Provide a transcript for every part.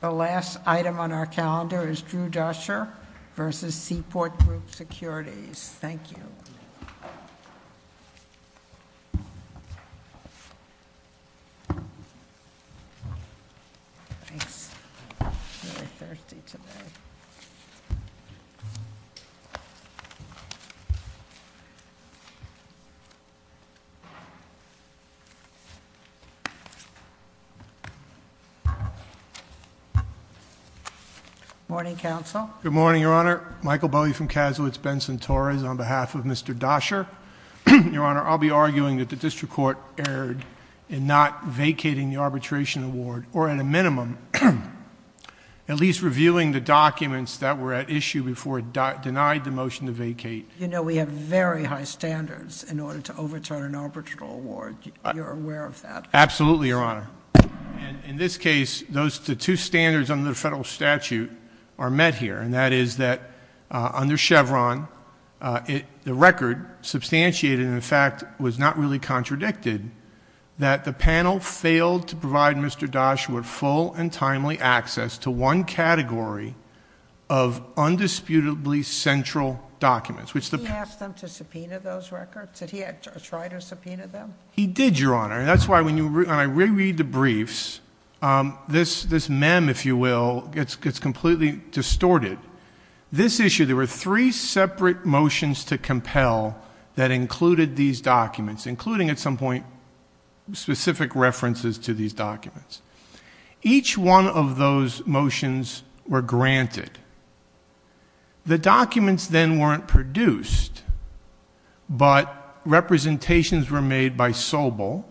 The last item on our calendar is Drew Duscher v. Sea Port Group Securities. Thank you. Good morning, Counsel. Good morning, Your Honor. Michael Bowie from Kasowitz Benson Torres on behalf of Mr. Duscher. Your Honor, I'll be arguing that the District Court erred in not vacating the arbitration award, or at a minimum, at least reviewing the documents that were at issue before it denied the motion to vacate. You know we have very high standards in order to overturn an arbitral award. You're aware of that. Absolutely, Your Honor. In this case, the two standards under the federal statute are met here, and that is that under Chevron, the record substantiated, in fact, was not really contradicted, that the panel failed to provide Mr. Duscher with full and timely access to one category of undisputably central documents. Did he ask them to subpoena those records? Did he try to subpoena them? He did, Your Honor. That's why when I reread the briefs, this mem, if you will, gets completely distorted. This issue, there were three separate motions to compel that included these documents, including at some point specific references to these documents. Each one of those motions were granted. The documents then weren't produced, but representations were made by Sobel,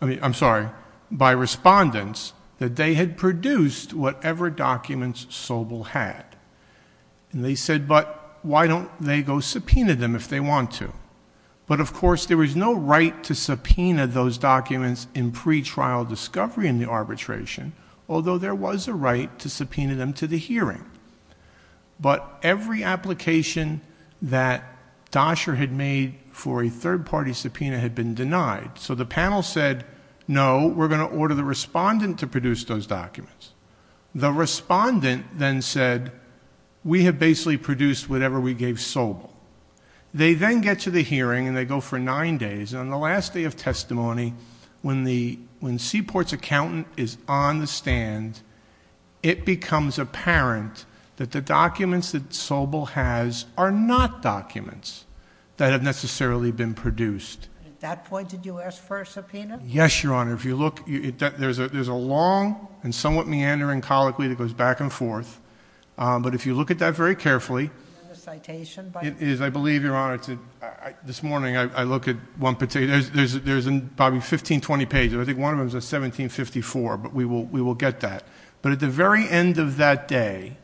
I mean, I'm sorry, by respondents, that they had produced whatever documents Sobel had. And they said, but why don't they go subpoena them if they want to? But of course, there was no right to subpoena those documents in pretrial discovery in the arbitration, although there was a right to subpoena them to the hearing. But every application that Duscher had made for a third-party subpoena had been denied. So the panel said, no, we're going to order the respondent to produce those documents. The respondent then said, we have basically produced whatever we gave Sobel. They then get to the hearing, and they go for nine days. And on the last day of testimony, when Seaport's accountant is on the stand, it becomes apparent that the documents that Sobel has are not documents that have necessarily been produced. At that point, did you ask for a subpoena? Yes, Your Honor. If you look, there's a long and somewhat meandering colloquy that goes back and forth. But if you look at that very carefully, it is, I believe, Your Honor, this morning, I look at one particular, there's probably 15, 20 pages. I think one of them says 1754, but we will get that. But at the very end of that day,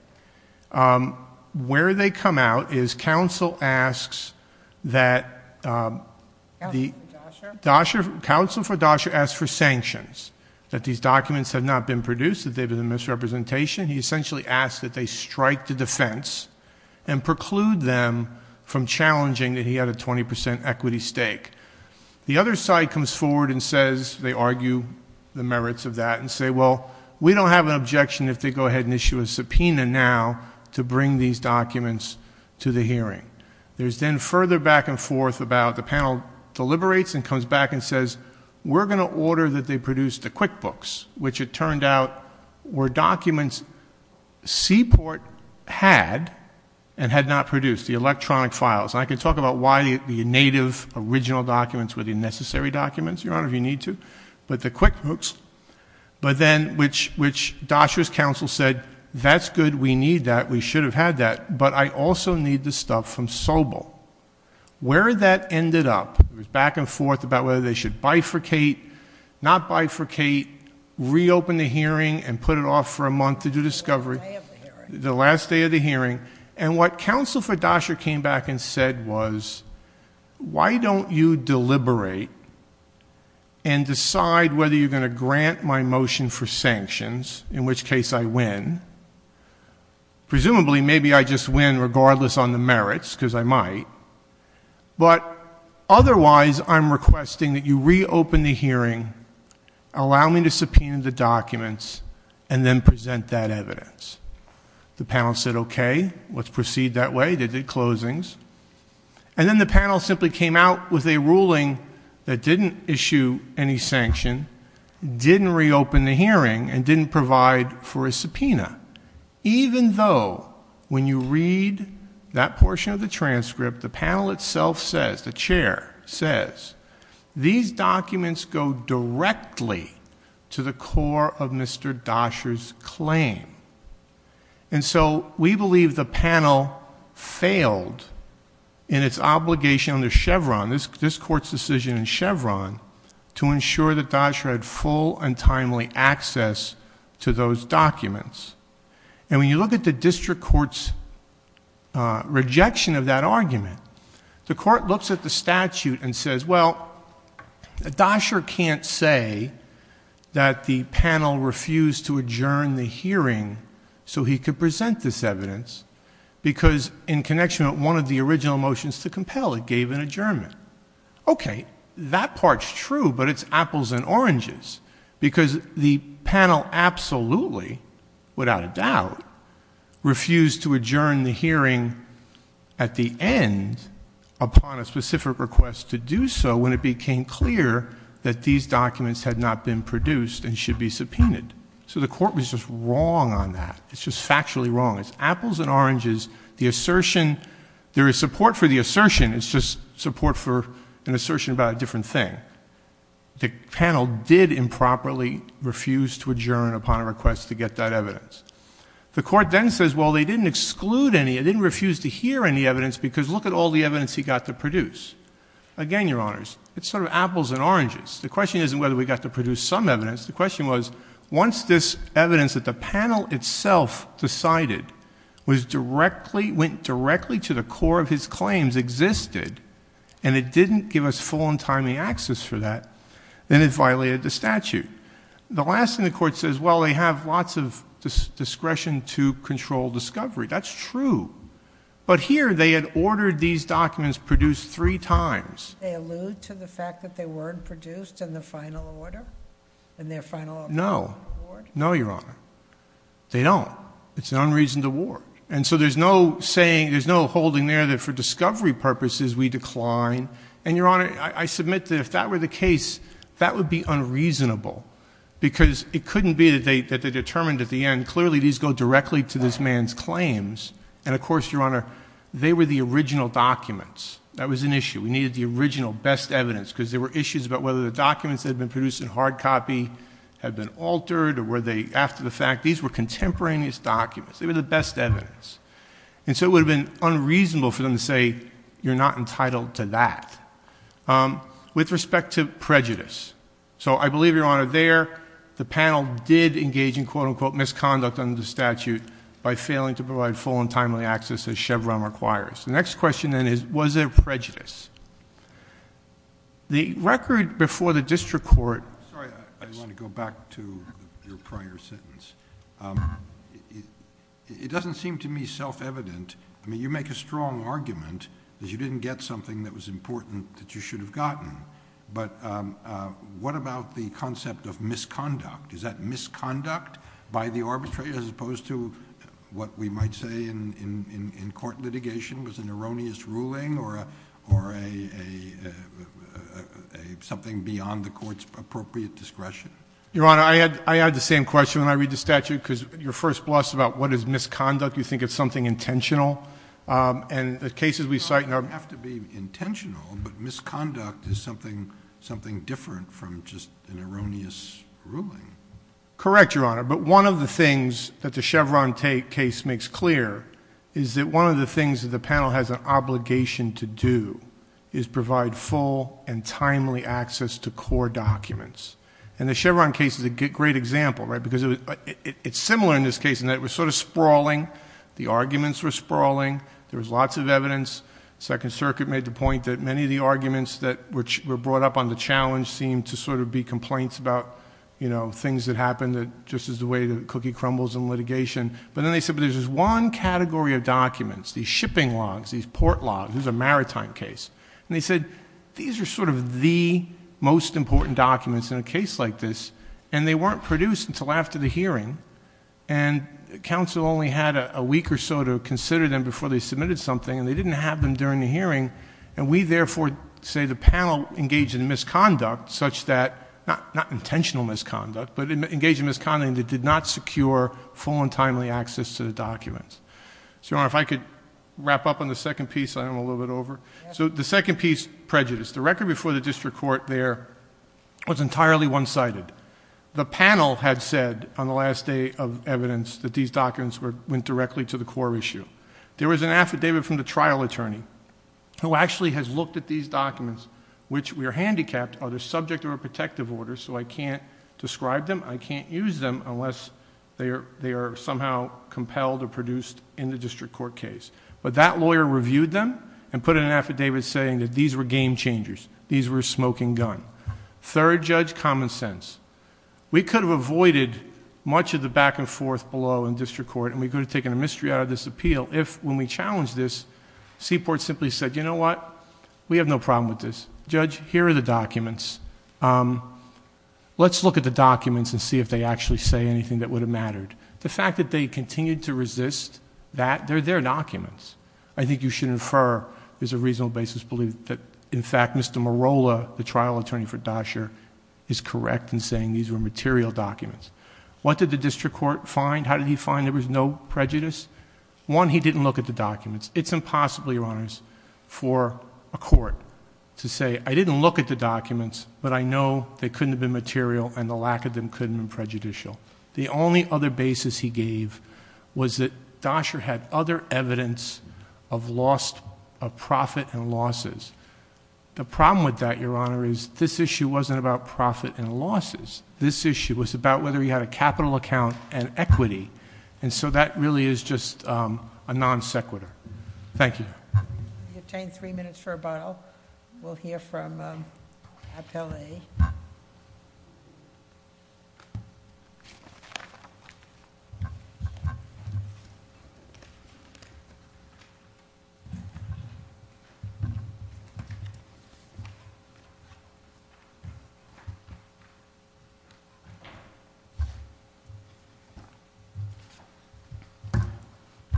where they come out is counsel asks that the- Counsel for Duscher? Counsel for Duscher asks for sanctions, that these documents have not been produced, that they've been a misrepresentation. He essentially asks that they strike the defense and preclude them from challenging that he had a 20% equity stake. The other side comes forward and says, they argue the merits of that and say, well, we don't have an objection if they go ahead and issue a subpoena now to bring these documents to the hearing. There's then further back and forth about the panel deliberates and comes back and says, we're going to order that they produce the QuickBooks, which it turned out were documents Seaport had and had not produced, the electronic files. And I can talk about why the native original documents were the necessary documents, Your Honor, if you need to, but the QuickBooks. But then, which Duscher's counsel said, that's good, we need that, we should have had that, but I also need the stuff from Sobel. Where that ended up was back and forth about whether they should bifurcate, not bifurcate, reopen the hearing, and put it off for a month to do discovery. The last day of the hearing. And what counsel for Duscher came back and said was, why don't you deliberate and decide whether you're going to grant my motion for sanctions, in which case I win. Presumably, maybe I just win regardless on the merits, because I might. But otherwise, I'm requesting that you reopen the hearing, allow me to subpoena the documents, and then present that evidence. The panel said, okay, let's proceed that way, they did closings. And then the panel simply came out with a ruling that didn't issue any sanction, didn't reopen the hearing, and didn't provide for a subpoena. Even though, when you read that portion of the transcript, the panel itself says, the chair says, these documents go directly to the core of Mr. Duscher's claim. And so we believe the panel failed in its obligation under Chevron, this court's decision in Chevron, to ensure that Duscher had full and timely access to those documents. And when you look at the district court's rejection of that argument, the court looks at the statute and says, well, Duscher can't say that the panel refused to adjourn the hearing, so he could present this evidence, because in connection with one of the original motions to compel, it gave an adjournment. Okay, that part's true, but it's apples and oranges. Because the panel absolutely, without a doubt, refused to adjourn the hearing at the end, upon a specific request to do so, when it became clear that these documents had not been produced and should be subpoenaed. So the court was just wrong on that. It's just factually wrong. It's apples and oranges. The assertion, there is support for the assertion. It's just support for an assertion about a different thing. The panel did improperly refuse to adjourn upon a request to get that evidence. The court then says, well, they didn't exclude any, they didn't refuse to hear any evidence, because look at all the evidence he got to produce. Again, Your Honors, it's sort of apples and oranges. The question isn't whether we got to produce some evidence. The question was, once this evidence that the panel itself decided went directly to the core of his claims existed, and it didn't give us full and timely access for that, then it violated the statute. The last thing the court says, well, they have lots of discretion to control discovery. That's true. But here they had ordered these documents produced three times. They allude to the fact that they weren't produced in the final order, in their final award? No. No, Your Honor. They don't. It's an unreasoned award. And so there's no saying, there's no holding there that for discovery purposes we decline. And, Your Honor, I submit that if that were the case, that would be unreasonable, because it couldn't be that they determined at the end, clearly these go directly to this man's claims. And, of course, Your Honor, they were the original documents. That was an issue. We needed the original best evidence, because there were issues about whether the documents that had been produced in hard copy had been altered or were they after the fact. These were contemporaneous documents. They were the best evidence. And so it would have been unreasonable for them to say, you're not entitled to that. With respect to prejudice, so I believe, Your Honor, there the panel did engage in, quote, unquote, misconduct under the statute by failing to provide full and timely access as Chevron requires. The next question then is, was there prejudice? The record before the district court... Sorry. I want to go back to your prior sentence. It doesn't seem to me self-evident. I mean, you make a strong argument that you didn't get something that was important that you should have gotten. But what about the concept of misconduct? Is that misconduct by the arbitrator as opposed to what we might say in court litigation was an erroneous ruling or something beyond the court's appropriate discretion? Your Honor, I had the same question when I read the statute, because you're first blessed about what is misconduct. You think it's something intentional. And the cases we cite... It doesn't have to be intentional, but misconduct is something different from just an erroneous ruling. Correct, Your Honor. But one of the things that the Chevron case makes clear is that one of the things that the panel has an obligation to do is provide full and timely access to core documents. And the Chevron case is a great example, right, because it's similar in this case in that it was sort of sprawling. The arguments were sprawling. There was lots of evidence. Second Circuit made the point that many of the arguments that were brought up on the challenge seemed to sort of be complaints about things that happened just as the way the cookie crumbles in litigation. But then they said, but there's this one category of documents, these shipping logs, these port logs. This is a maritime case. And they said, these are sort of the most important documents in a case like this, and they weren't produced until after the hearing. And counsel only had a week or so to consider them before they submitted something, and they didn't have them during the hearing. And we, therefore, say the panel engaged in misconduct such that, not intentional misconduct, but engaged in misconduct that did not secure full and timely access to the documents. So, Your Honor, if I could wrap up on the second piece. I'm a little bit over. So the second piece, prejudice. The record before the district court there was entirely one-sided. The panel had said on the last day of evidence that these documents went directly to the core issue. There was an affidavit from the trial attorney who actually has looked at these documents, which were handicapped, are they subject to a protective order, so I can't describe them, I can't use them unless they are somehow compelled or produced in the district court case. But that lawyer reviewed them and put in an affidavit saying that these were game changers. These were a smoking gun. Third, Judge, common sense. We could have avoided much of the back and forth below in district court, and we could have taken a mystery out of this appeal if, when we challenged this, Seaport simply said, you know what, we have no problem with this. Judge, here are the documents. Let's look at the documents and see if they actually say anything that would have mattered. The fact that they continued to resist that, they're their documents. I think you should infer there's a reasonable basis to believe that, in fact, Mr. Morolla, the trial attorney for Dasher, is correct in saying these were material documents. What did the district court find? How did he find there was no prejudice? One, he didn't look at the documents. It's impossible, Your Honors, for a court to say, I didn't look at the documents, but I know they couldn't have been material and the lack of them couldn't have been prejudicial. The only other basis he gave was that Dasher had other evidence of loss of profit and losses. The problem with that, Your Honor, is this issue wasn't about profit and losses. This issue was about whether he had a capital account and equity. And so that really is just a non sequitur. Thank you. You obtain three minutes for rebuttal. We'll hear from Appellee.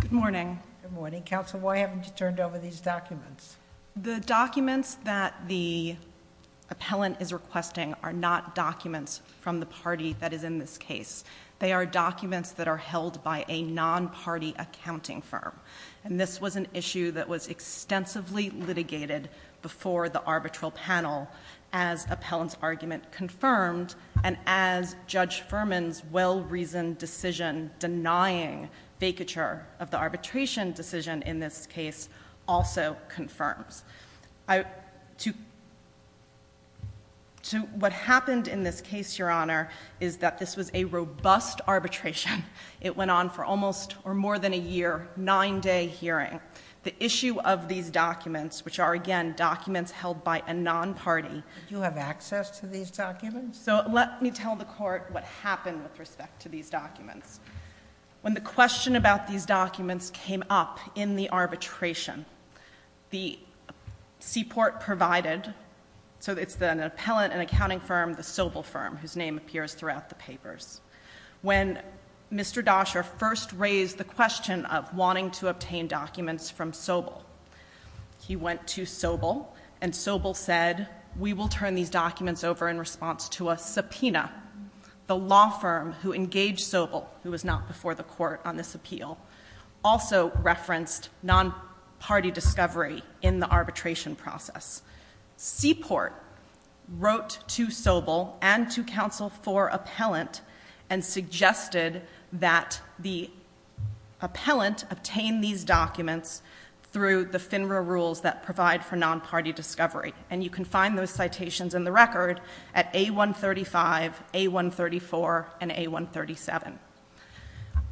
Good morning. Good morning. Counsel, why haven't you turned over these documents? The documents that the appellant is requesting are not documents from the party that is in this case. They are documents that are held by a non-party accounting firm. And this was an issue that was extensively litigated before the arbitral panel as appellant's argument confirmed and as Judge Furman's well-reasoned decision denying vacature of the arbitration decision in this case also confirms. What happened in this case, Your Honor, is that this was a robust arbitration. It went on for almost or more than a year, nine-day hearing. The issue of these documents, which are, again, documents held by a non-party. Do you have access to these documents? So let me tell the Court what happened with respect to these documents. When the question about these documents came up in the arbitration, the CPORT provided, so it's an appellant, an accounting firm, the Sobel firm, whose name appears throughout the papers. When Mr. Dasher first raised the question of wanting to obtain documents from Sobel, he went to Sobel and Sobel said, we will turn these documents over in response to a subpoena. The law firm who engaged Sobel, who was not before the Court on this appeal, also referenced non-party discovery in the arbitration process. CPORT wrote to Sobel and to counsel for appellant and suggested that the appellant obtain these documents through the FINRA rules that provide for non-party discovery. And you can find those citations in the record at A135, A134, and A137.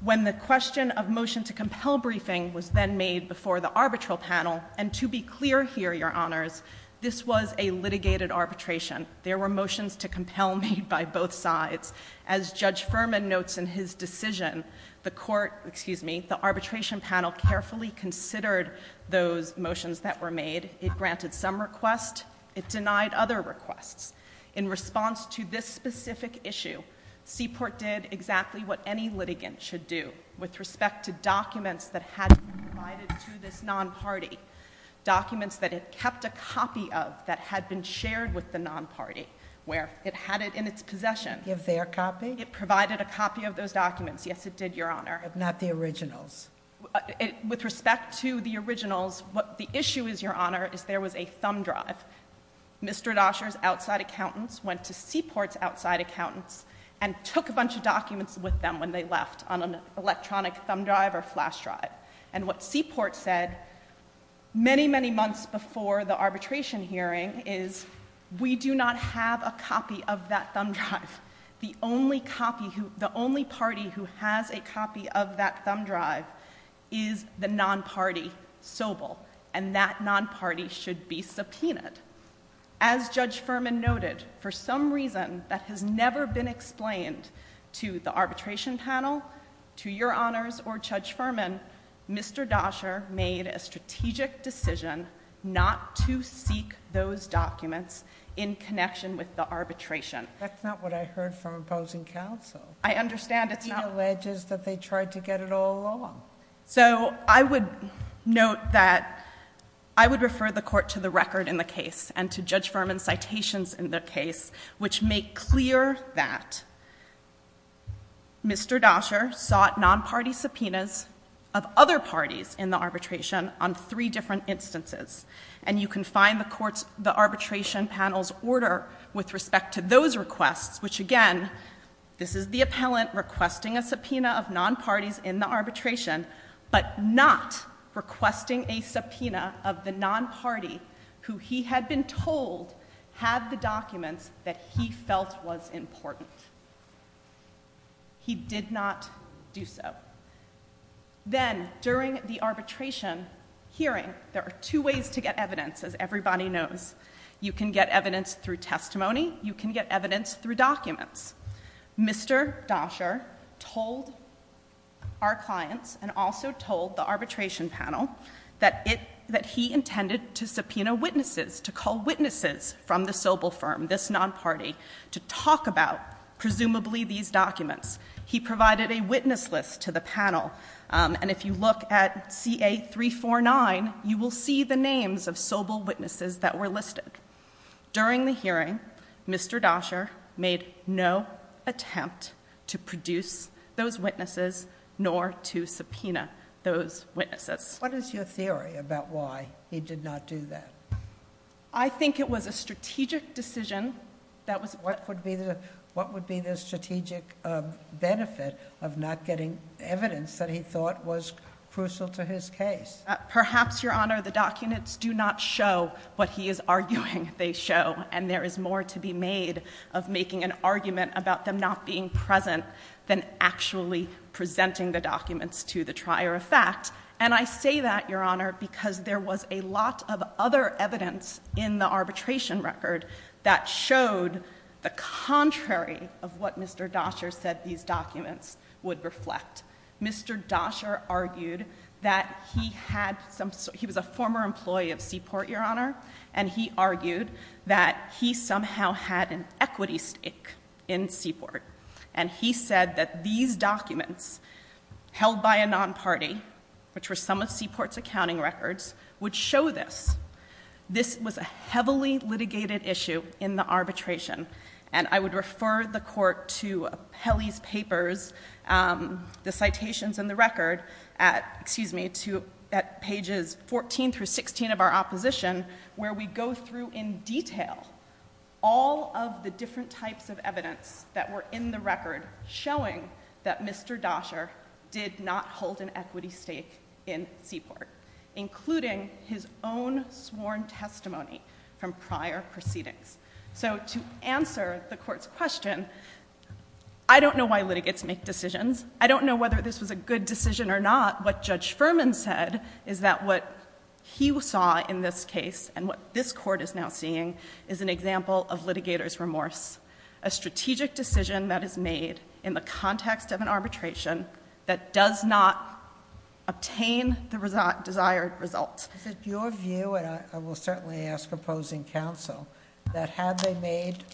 When the question of motion to compel briefing was then made before the arbitral panel, and to be clear here, Your Honors, this was a litigated arbitration. There were motions to compel made by both sides. As Judge Furman notes in his decision, the arbitration panel carefully considered those motions that were made. It granted some requests. It denied other requests. In response to this specific issue, CPORT did exactly what any litigant should do with respect to documents that had been provided to this non-party, documents that it kept a copy of that had been shared with the non-party, where it had it in its possession. Give their copy? It provided a copy of those documents. Yes, it did, Your Honor. But not the originals? With respect to the originals, the issue is, Your Honor, is there was a thumb drive. Mr. Dasher's outside accountants went to CPORT's outside accountants and took a bunch of documents with them when they left on an electronic thumb drive or flash drive. And what CPORT said many, many months before the arbitration hearing is, we do not have a copy of that thumb drive. The only party who has a copy of that thumb drive is the non-party Sobel, and that non-party should be subpoenaed. As Judge Furman noted, for some reason that has never been explained to the arbitration panel, to Your Honors or Judge Furman, Mr. Dasher made a strategic decision not to seek those documents in connection with the arbitration. That's not what I heard from opposing counsel. I understand it's not... He alleges that they tried to get it all wrong. So I would note that I would refer the Court to the record in the case and to Judge Furman's citations in the case, which make clear that Mr. Dasher sought non-party subpoenas of other parties in the arbitration on three different instances. And you can find the arbitration panel's order with respect to those requests, which again, this is the appellant requesting a subpoena of non-parties in the arbitration, but not requesting a subpoena of the non-party who he had been told had the documents that he felt was important. He did not do so. Then, during the arbitration hearing, there are two ways to get evidence, as everybody knows. You can get evidence through testimony. You can get evidence through documents. Mr. Dasher told our clients, and also told the arbitration panel, that he intended to subpoena witnesses, to call witnesses from the Sobel firm, this non-party, to talk about, presumably, these documents. He provided a witness list to the panel. And if you look at CA-349, you will see the names of Sobel witnesses that were listed. During the hearing, Mr. Dasher made no attempt to produce those witnesses, nor to subpoena those witnesses. What is your theory about why he did not do that? I think it was a strategic decision that was... What would be the strategic benefit of not getting evidence that he thought was crucial to his case? Perhaps, Your Honor, the documents do not show what he is arguing they show. And there is more to be made of making an argument about them not being present than actually presenting the documents to the trier of fact. And I say that, Your Honor, because there was a lot of other evidence in the arbitration record that showed the contrary of what Mr. Dasher said these documents would reflect. Mr. Dasher argued that he had some... he was a former employee of Seaport, Your Honor, and he argued that he somehow had an equity stake in Seaport. And he said that these documents, held by a non-party, which were some of Seaport's accounting records, would show this. This was a heavily litigated issue in the arbitration. And I would refer the Court to Peli's papers, the citations in the record, at pages 14 through 16 of our opposition, where we go through in detail all of the different types of evidence that were in the record showing that Mr. Dasher did not hold an equity stake in Seaport, including his own sworn testimony from prior proceedings. So to answer the Court's question, I don't know why litigants make decisions. I don't know whether this was a good decision or not. What Judge Furman said is that what he saw in this case, and what this Court is now seeing, is an example of litigator's remorse. A strategic decision that is made in the context of an arbitration that does not obtain the desired results. Is it your view, and I will certainly ask opposing counsel, that had they made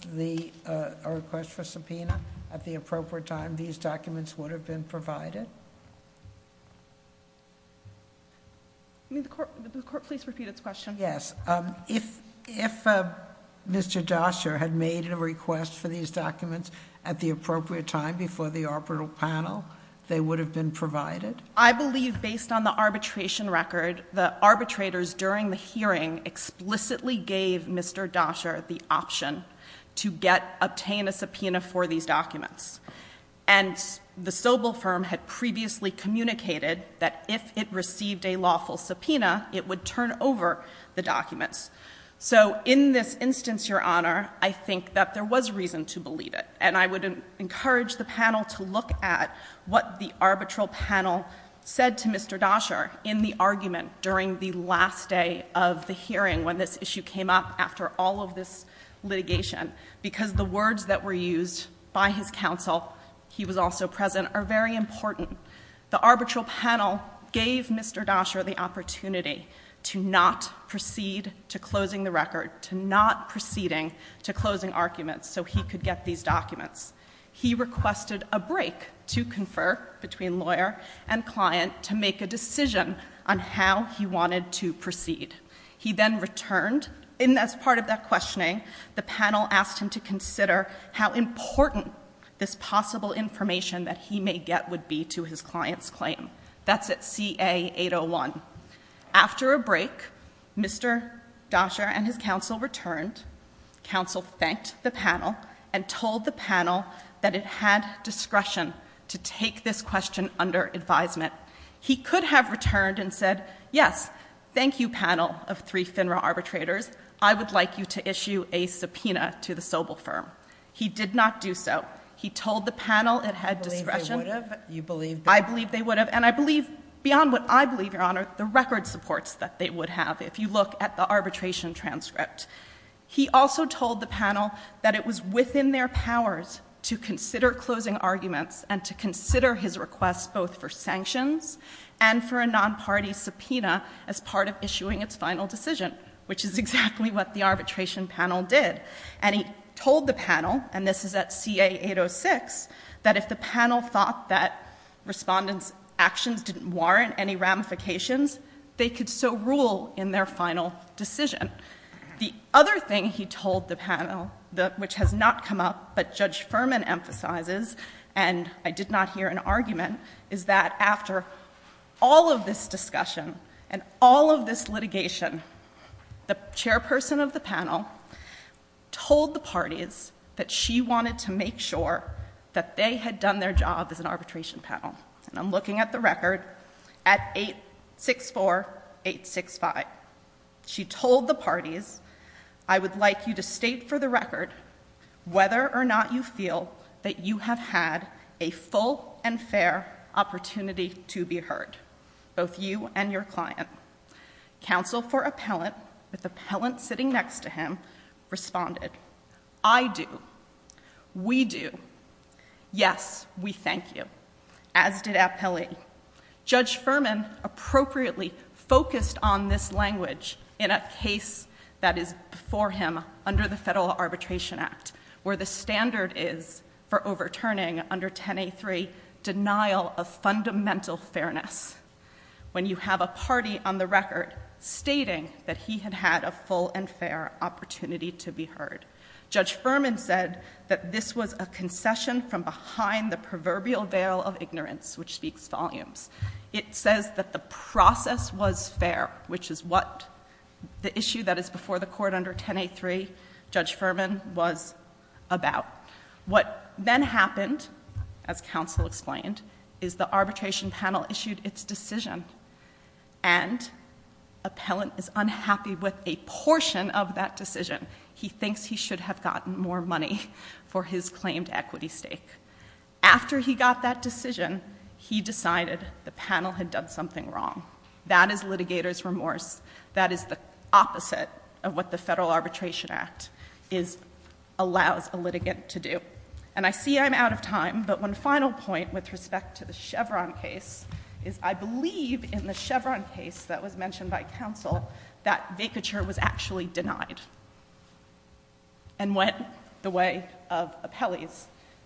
a request for subpoena at the appropriate time, these documents would have been provided? The Court, please repeat its question. Yes. If Mr. Dasher had made a request for these documents at the appropriate time before the arbitral panel, they would have been provided? I believe, based on the arbitration record, the arbitrators during the hearing explicitly gave Mr. Dasher the option to obtain a subpoena for these documents. And the Sobel firm had previously communicated that if it received a lawful subpoena, it would turn over the documents. So, in this instance, Your Honor, I think that there was reason to believe it. And I would encourage the panel to look at what the arbitral panel said to Mr. Dasher in the argument during the last day of the hearing, when this issue came up after all of this litigation. Because the words that were used by his counsel, he was also present, are very important. The arbitral panel gave Mr. Dasher the opportunity to not proceed to closing the record, to not proceeding to closing arguments, so he could get these documents. He requested a break to confer between lawyer and client to make a decision on how he wanted to proceed. He then returned, and as part of that questioning, the panel asked him to consider how important this possible information that he may get would be to his client's claim. That's at CA801. After a break, Mr. Dasher and his counsel returned. Counsel thanked the panel and told the panel that it had discretion to take this question under advisement. He could have returned and said, yes, thank you, panel of three FINRA arbitrators, I would like you to issue a subpoena to the Sobel firm. He did not do so. He told the panel it had discretion. You believe they would have? I believe they would have. And I believe, beyond what I believe, Your Honor, the record supports that they would have if you look at the arbitration transcript. He also told the panel that it was within their powers to consider closing arguments and to consider his request both for sanctions and for a non-party subpoena as part of issuing its final decision, which is exactly what the arbitration panel did. And he told the panel, and this is at CA806, that if the panel thought that respondents' actions didn't warrant any ramifications, they could so rule in their final decision. The other thing he told the panel, which has not come up, but Judge Furman emphasizes, and I did not hear an argument, is that after all of this discussion and all of this litigation, the chairperson of the panel told the parties that she wanted to make sure that they had done their job as an arbitration panel. And I'm looking at the record at 864-865. She told the parties, I would like you to state for the record whether or not you feel that you have had a full and fair opportunity to be heard, both you and your client. Counsel for appellant, with appellant sitting next to him, responded, I do, we do, yes, we thank you, as did appellee. Judge Furman appropriately focused on this language in a case that is before him under the Federal Arbitration Act, where the standard is for overturning under 10A3, denial of fundamental fairness. When you have a party on the record stating that he had had a full and fair opportunity to be heard. Judge Furman said that this was a concession from behind the proverbial veil of ignorance, which speaks volumes. It says that the process was fair, which is what the issue that is before the court under 10A3, Judge Furman, was about. What then happened, as counsel explained, is the arbitration panel issued its decision and appellant is unhappy with a portion of that decision. He thinks he should have gotten more money for his claimed equity stake. After he got that decision, he decided the panel had done something wrong. That is litigator's remorse. That is the opposite of what the Federal Arbitration Act allows a litigant to do. And I see I'm out of time, but one final point with respect to the Chevron case is I believe in the Chevron case that was mentioned by counsel that vacature was actually denied and went the way of appellees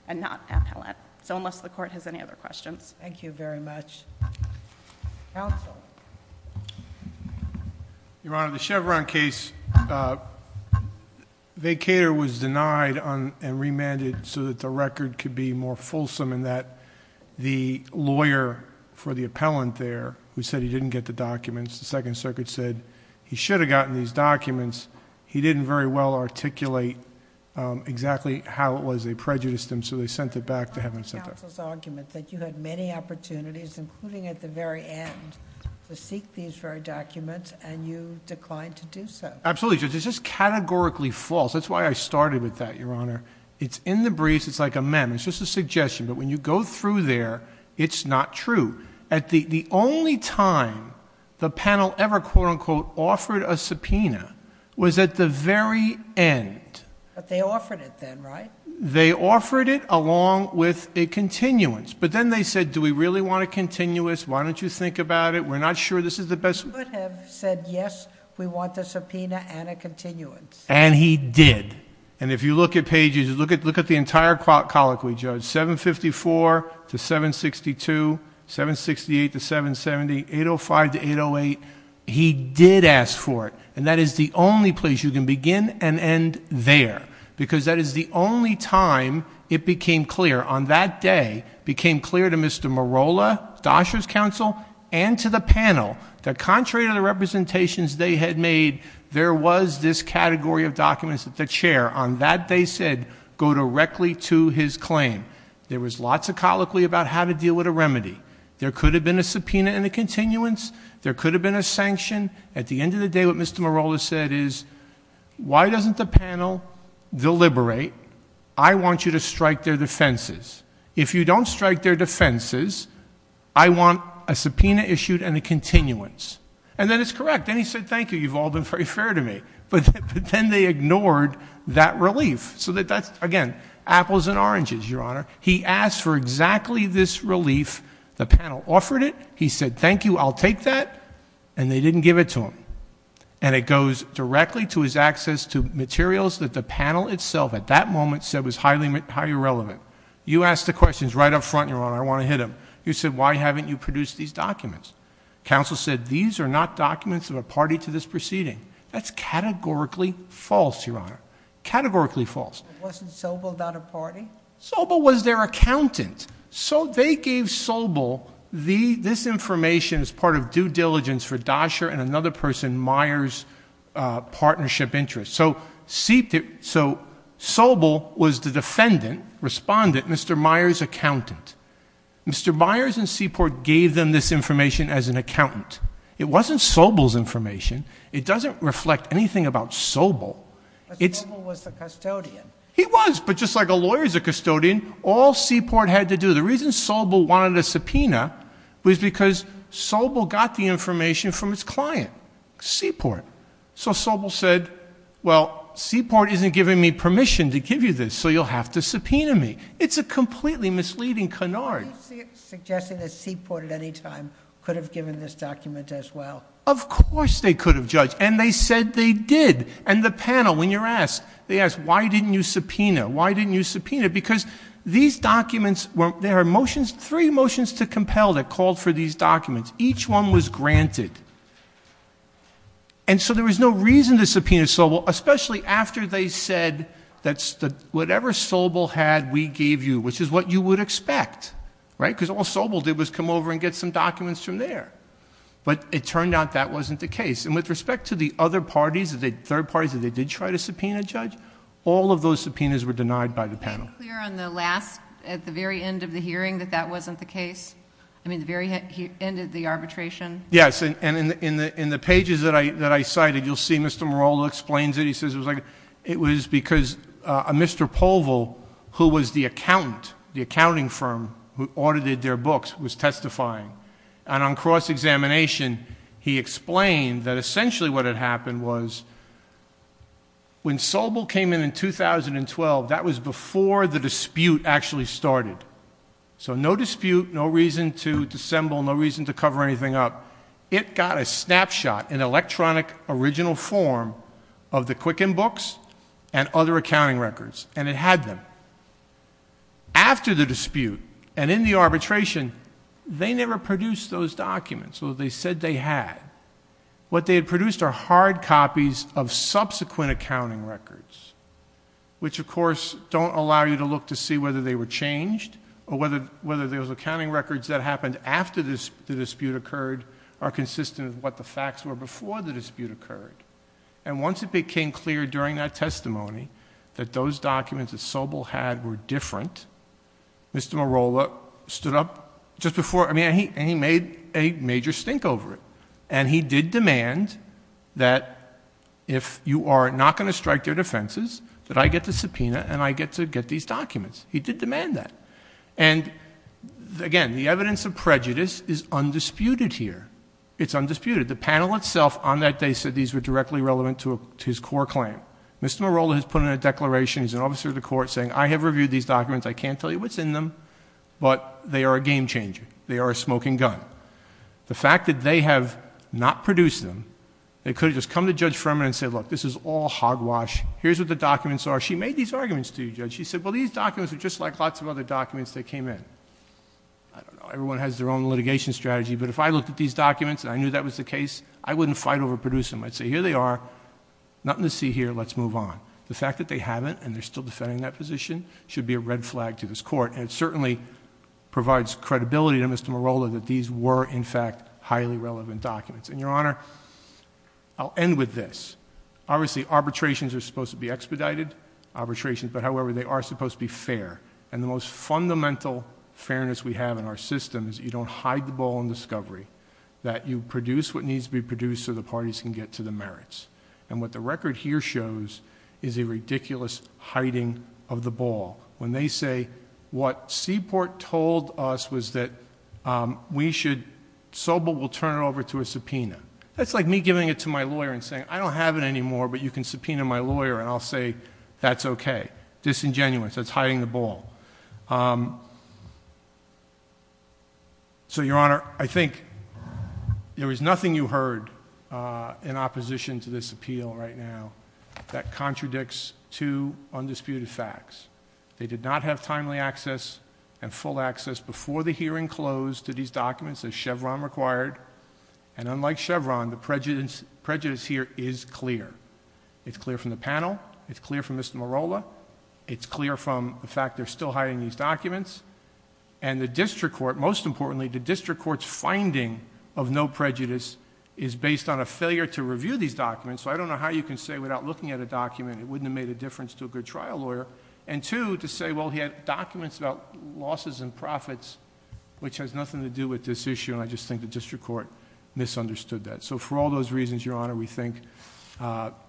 and not appellant. So unless the court has any other questions. Thank you very much. Counsel. Your Honor, the Chevron case, vacator was denied and remanded so that the record could be more fulsome in that the lawyer for the appellant there, who said he didn't get the documents, the Second Circuit said he should have gotten these documents, he didn't very well articulate exactly how it was they prejudiced him, so they sent it back to him. That was counsel's argument, that you had many opportunities, including at the very end, to seek these very documents and you declined to do so. Absolutely, Judge. It's just categorically false. That's why I started with that, Your Honor. It's in the briefs. It's like a memo. It's just a suggestion. But when you go through there, it's not true. The only time the panel ever, quote, unquote, offered a subpoena was at the very end. But they offered it then, right? They offered it along with a continuance. But then they said, do we really want a continuance? Why don't you think about it? We're not sure this is the best... He could have said, yes, we want a subpoena and a continuance. And he did. And if you look at pages, look at the entire colloquy, Judge. 754 to 762, 768 to 770, 805 to 808, he did ask for it. And that is the only place you can begin and end there. Because that is the only time it became clear, on that day, it became clear to Mr. Morolla, Dosher's counsel, and to the panel, that contrary to the representations they had made, there was this category of documents that the chair, on that day said, go directly to his claim. There was lots of colloquy about how to deal with a remedy. There could have been a subpoena and a continuance. There could have been a sanction. At the end of the day, what Mr. Morolla said is, why doesn't the panel deliberate? I want you to strike their defenses. If you don't strike their defenses, I want a subpoena issued and a continuance. And then it's correct. Then he said, thank you. You've all been very fair to me. But then they ignored that relief. So that's, again, apples and oranges, Your Honor. He asked for exactly this relief. The panel offered it. He said, thank you. I'll take that. And they didn't give it to him. And it goes directly to his access to materials that the panel itself, at that moment, said was highly irrelevant. You asked the questions right up front, Your Honor. I want to hit them. You said, why haven't you produced these documents? Counsel said, these are not documents of a party to this proceeding. That's categorically false, Your Honor, categorically false. Wasn't Sobel not a party? Sobel was their accountant. So they gave Sobel this information as part of due diligence for Dasher and another person, Myers' partnership interest. So Sobel was the defendant, respondent, Mr. Myers' accountant. Mr. Myers and Seaport gave them this information as an accountant. It wasn't Sobel's information. It doesn't reflect anything about Sobel. But Sobel was the custodian. He was, but just like a lawyer is a custodian, all Seaport had to do, the reason Sobel wanted a subpoena was because Sobel got the information from his client, Seaport. So Sobel said, well, Seaport isn't giving me permission to give you this, so you'll have to subpoena me. It's a completely misleading canard. Are you suggesting that Seaport at any time could have given this document as well? Of course they could have, Judge, and they said they did. And the panel, when you're asked, they ask, why didn't you subpoena? Why didn't you subpoena? Because these documents, there are motions, three motions to compel that called for these documents. Each one was granted. And so there was no reason to subpoena Sobel, especially after they said that whatever Sobel had, we gave you, which is what you would expect, right? Because all Sobel did was come over and get some documents from there. But it turned out that wasn't the case. And with respect to the other parties, the third parties, did they try to subpoena, Judge? All of those subpoenas were denied by the panel. Are you clear on the last, at the very end of the hearing, that that wasn't the case? I mean, the very end of the arbitration? Yes. And in the pages that I cited, you'll see Mr. Merola explains it. He says it was because a Mr. Povel, who was the accountant, the accounting firm who audited their books, was testifying. And on cross-examination, he explained that essentially what had happened was, when Sobel came in in 2012, that was before the dispute actually started. So no dispute, no reason to dissemble, no reason to cover anything up. It got a snapshot, an electronic, original form of the Quicken books and other accounting records. And it had them. After the dispute and in the arbitration, they never produced those documents. So they said they had. What they had produced are hard copies of subsequent accounting records, which, of course, don't allow you to look to see whether they were changed or whether those accounting records that happened after the dispute occurred are consistent with what the facts were before the dispute occurred. And once it became clear during that testimony that those documents that Sobel had were different, Mr. Merola stood up just before... And he made a major stink over it. And he did demand that, if you are not going to strike their defences, that I get the subpoena and I get to get these documents. He did demand that. And, again, the evidence of prejudice is undisputed here. It's undisputed. The panel itself on that day said these were directly relevant to his core claim. Mr. Merola has put in a declaration, he's an officer of the court, saying, I have reviewed these documents, I can't tell you what's in them, but they are a game-changer. They are a smoking gun. The fact that they have not produced them, they could have just come to Judge Furman and said, look, this is all hogwash, here's what the documents are. She made these arguments to you, Judge. She said, well, these documents are just like lots of other documents that came in. I don't know, everyone has their own litigation strategy, but if I looked at these documents and I knew that was the case, I wouldn't fight over producing them. I'd say, here they are, nothing to see here, let's move on. The fact that they haven't and they're still defending that position should be a red flag to this court. And it certainly provides credibility to Mr. Merola that these were, in fact, highly relevant documents. And, Your Honor, I'll end with this. Obviously, arbitrations are supposed to be expedited, but, however, they are supposed to be fair. And the most fundamental fairness we have in our system is that you don't hide the ball in discovery, that you produce what needs to be produced so the parties can get to the merits. And what the record here shows is a ridiculous hiding of the ball. When they say, what Seaport told us was that we should, Sobel will turn it over to a subpoena. That's like me giving it to my lawyer and saying, I don't have it anymore, but you can subpoena my lawyer, and I'll say, that's okay. Disingenuous, that's hiding the ball. So, Your Honor, I think there is nothing you heard in opposition to this appeal right now that contradicts two undisputed facts. They did not have timely access and full access before the hearing closed to these documents, as Chevron required. And unlike Chevron, the prejudice here is clear. It's clear from the panel. It's clear from Mr. Merola. It's clear from the fact they're still hiding these documents. And the district court, most importantly, the district court's finding of no prejudice is based on a failure to review these documents. So I don't know how you can say without looking at a document, it wouldn't have made a difference to a good trial lawyer. And two, to say, well, he had documents about losses and profits, which has nothing to do with this issue, and I just think the district court misunderstood that. So for all those reasons, Your Honor, we think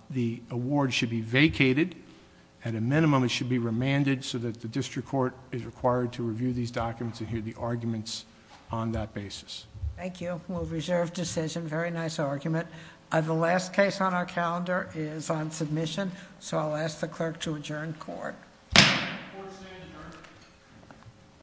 the award should be vacated. At a minimum, it should be remanded so that the district court is required to review these documents and hear the arguments on that basis. Thank you. Well, reserved decision. Very nice argument. The last case on our calendar is on submission, so I'll ask the clerk to adjourn court. Court is adjourned.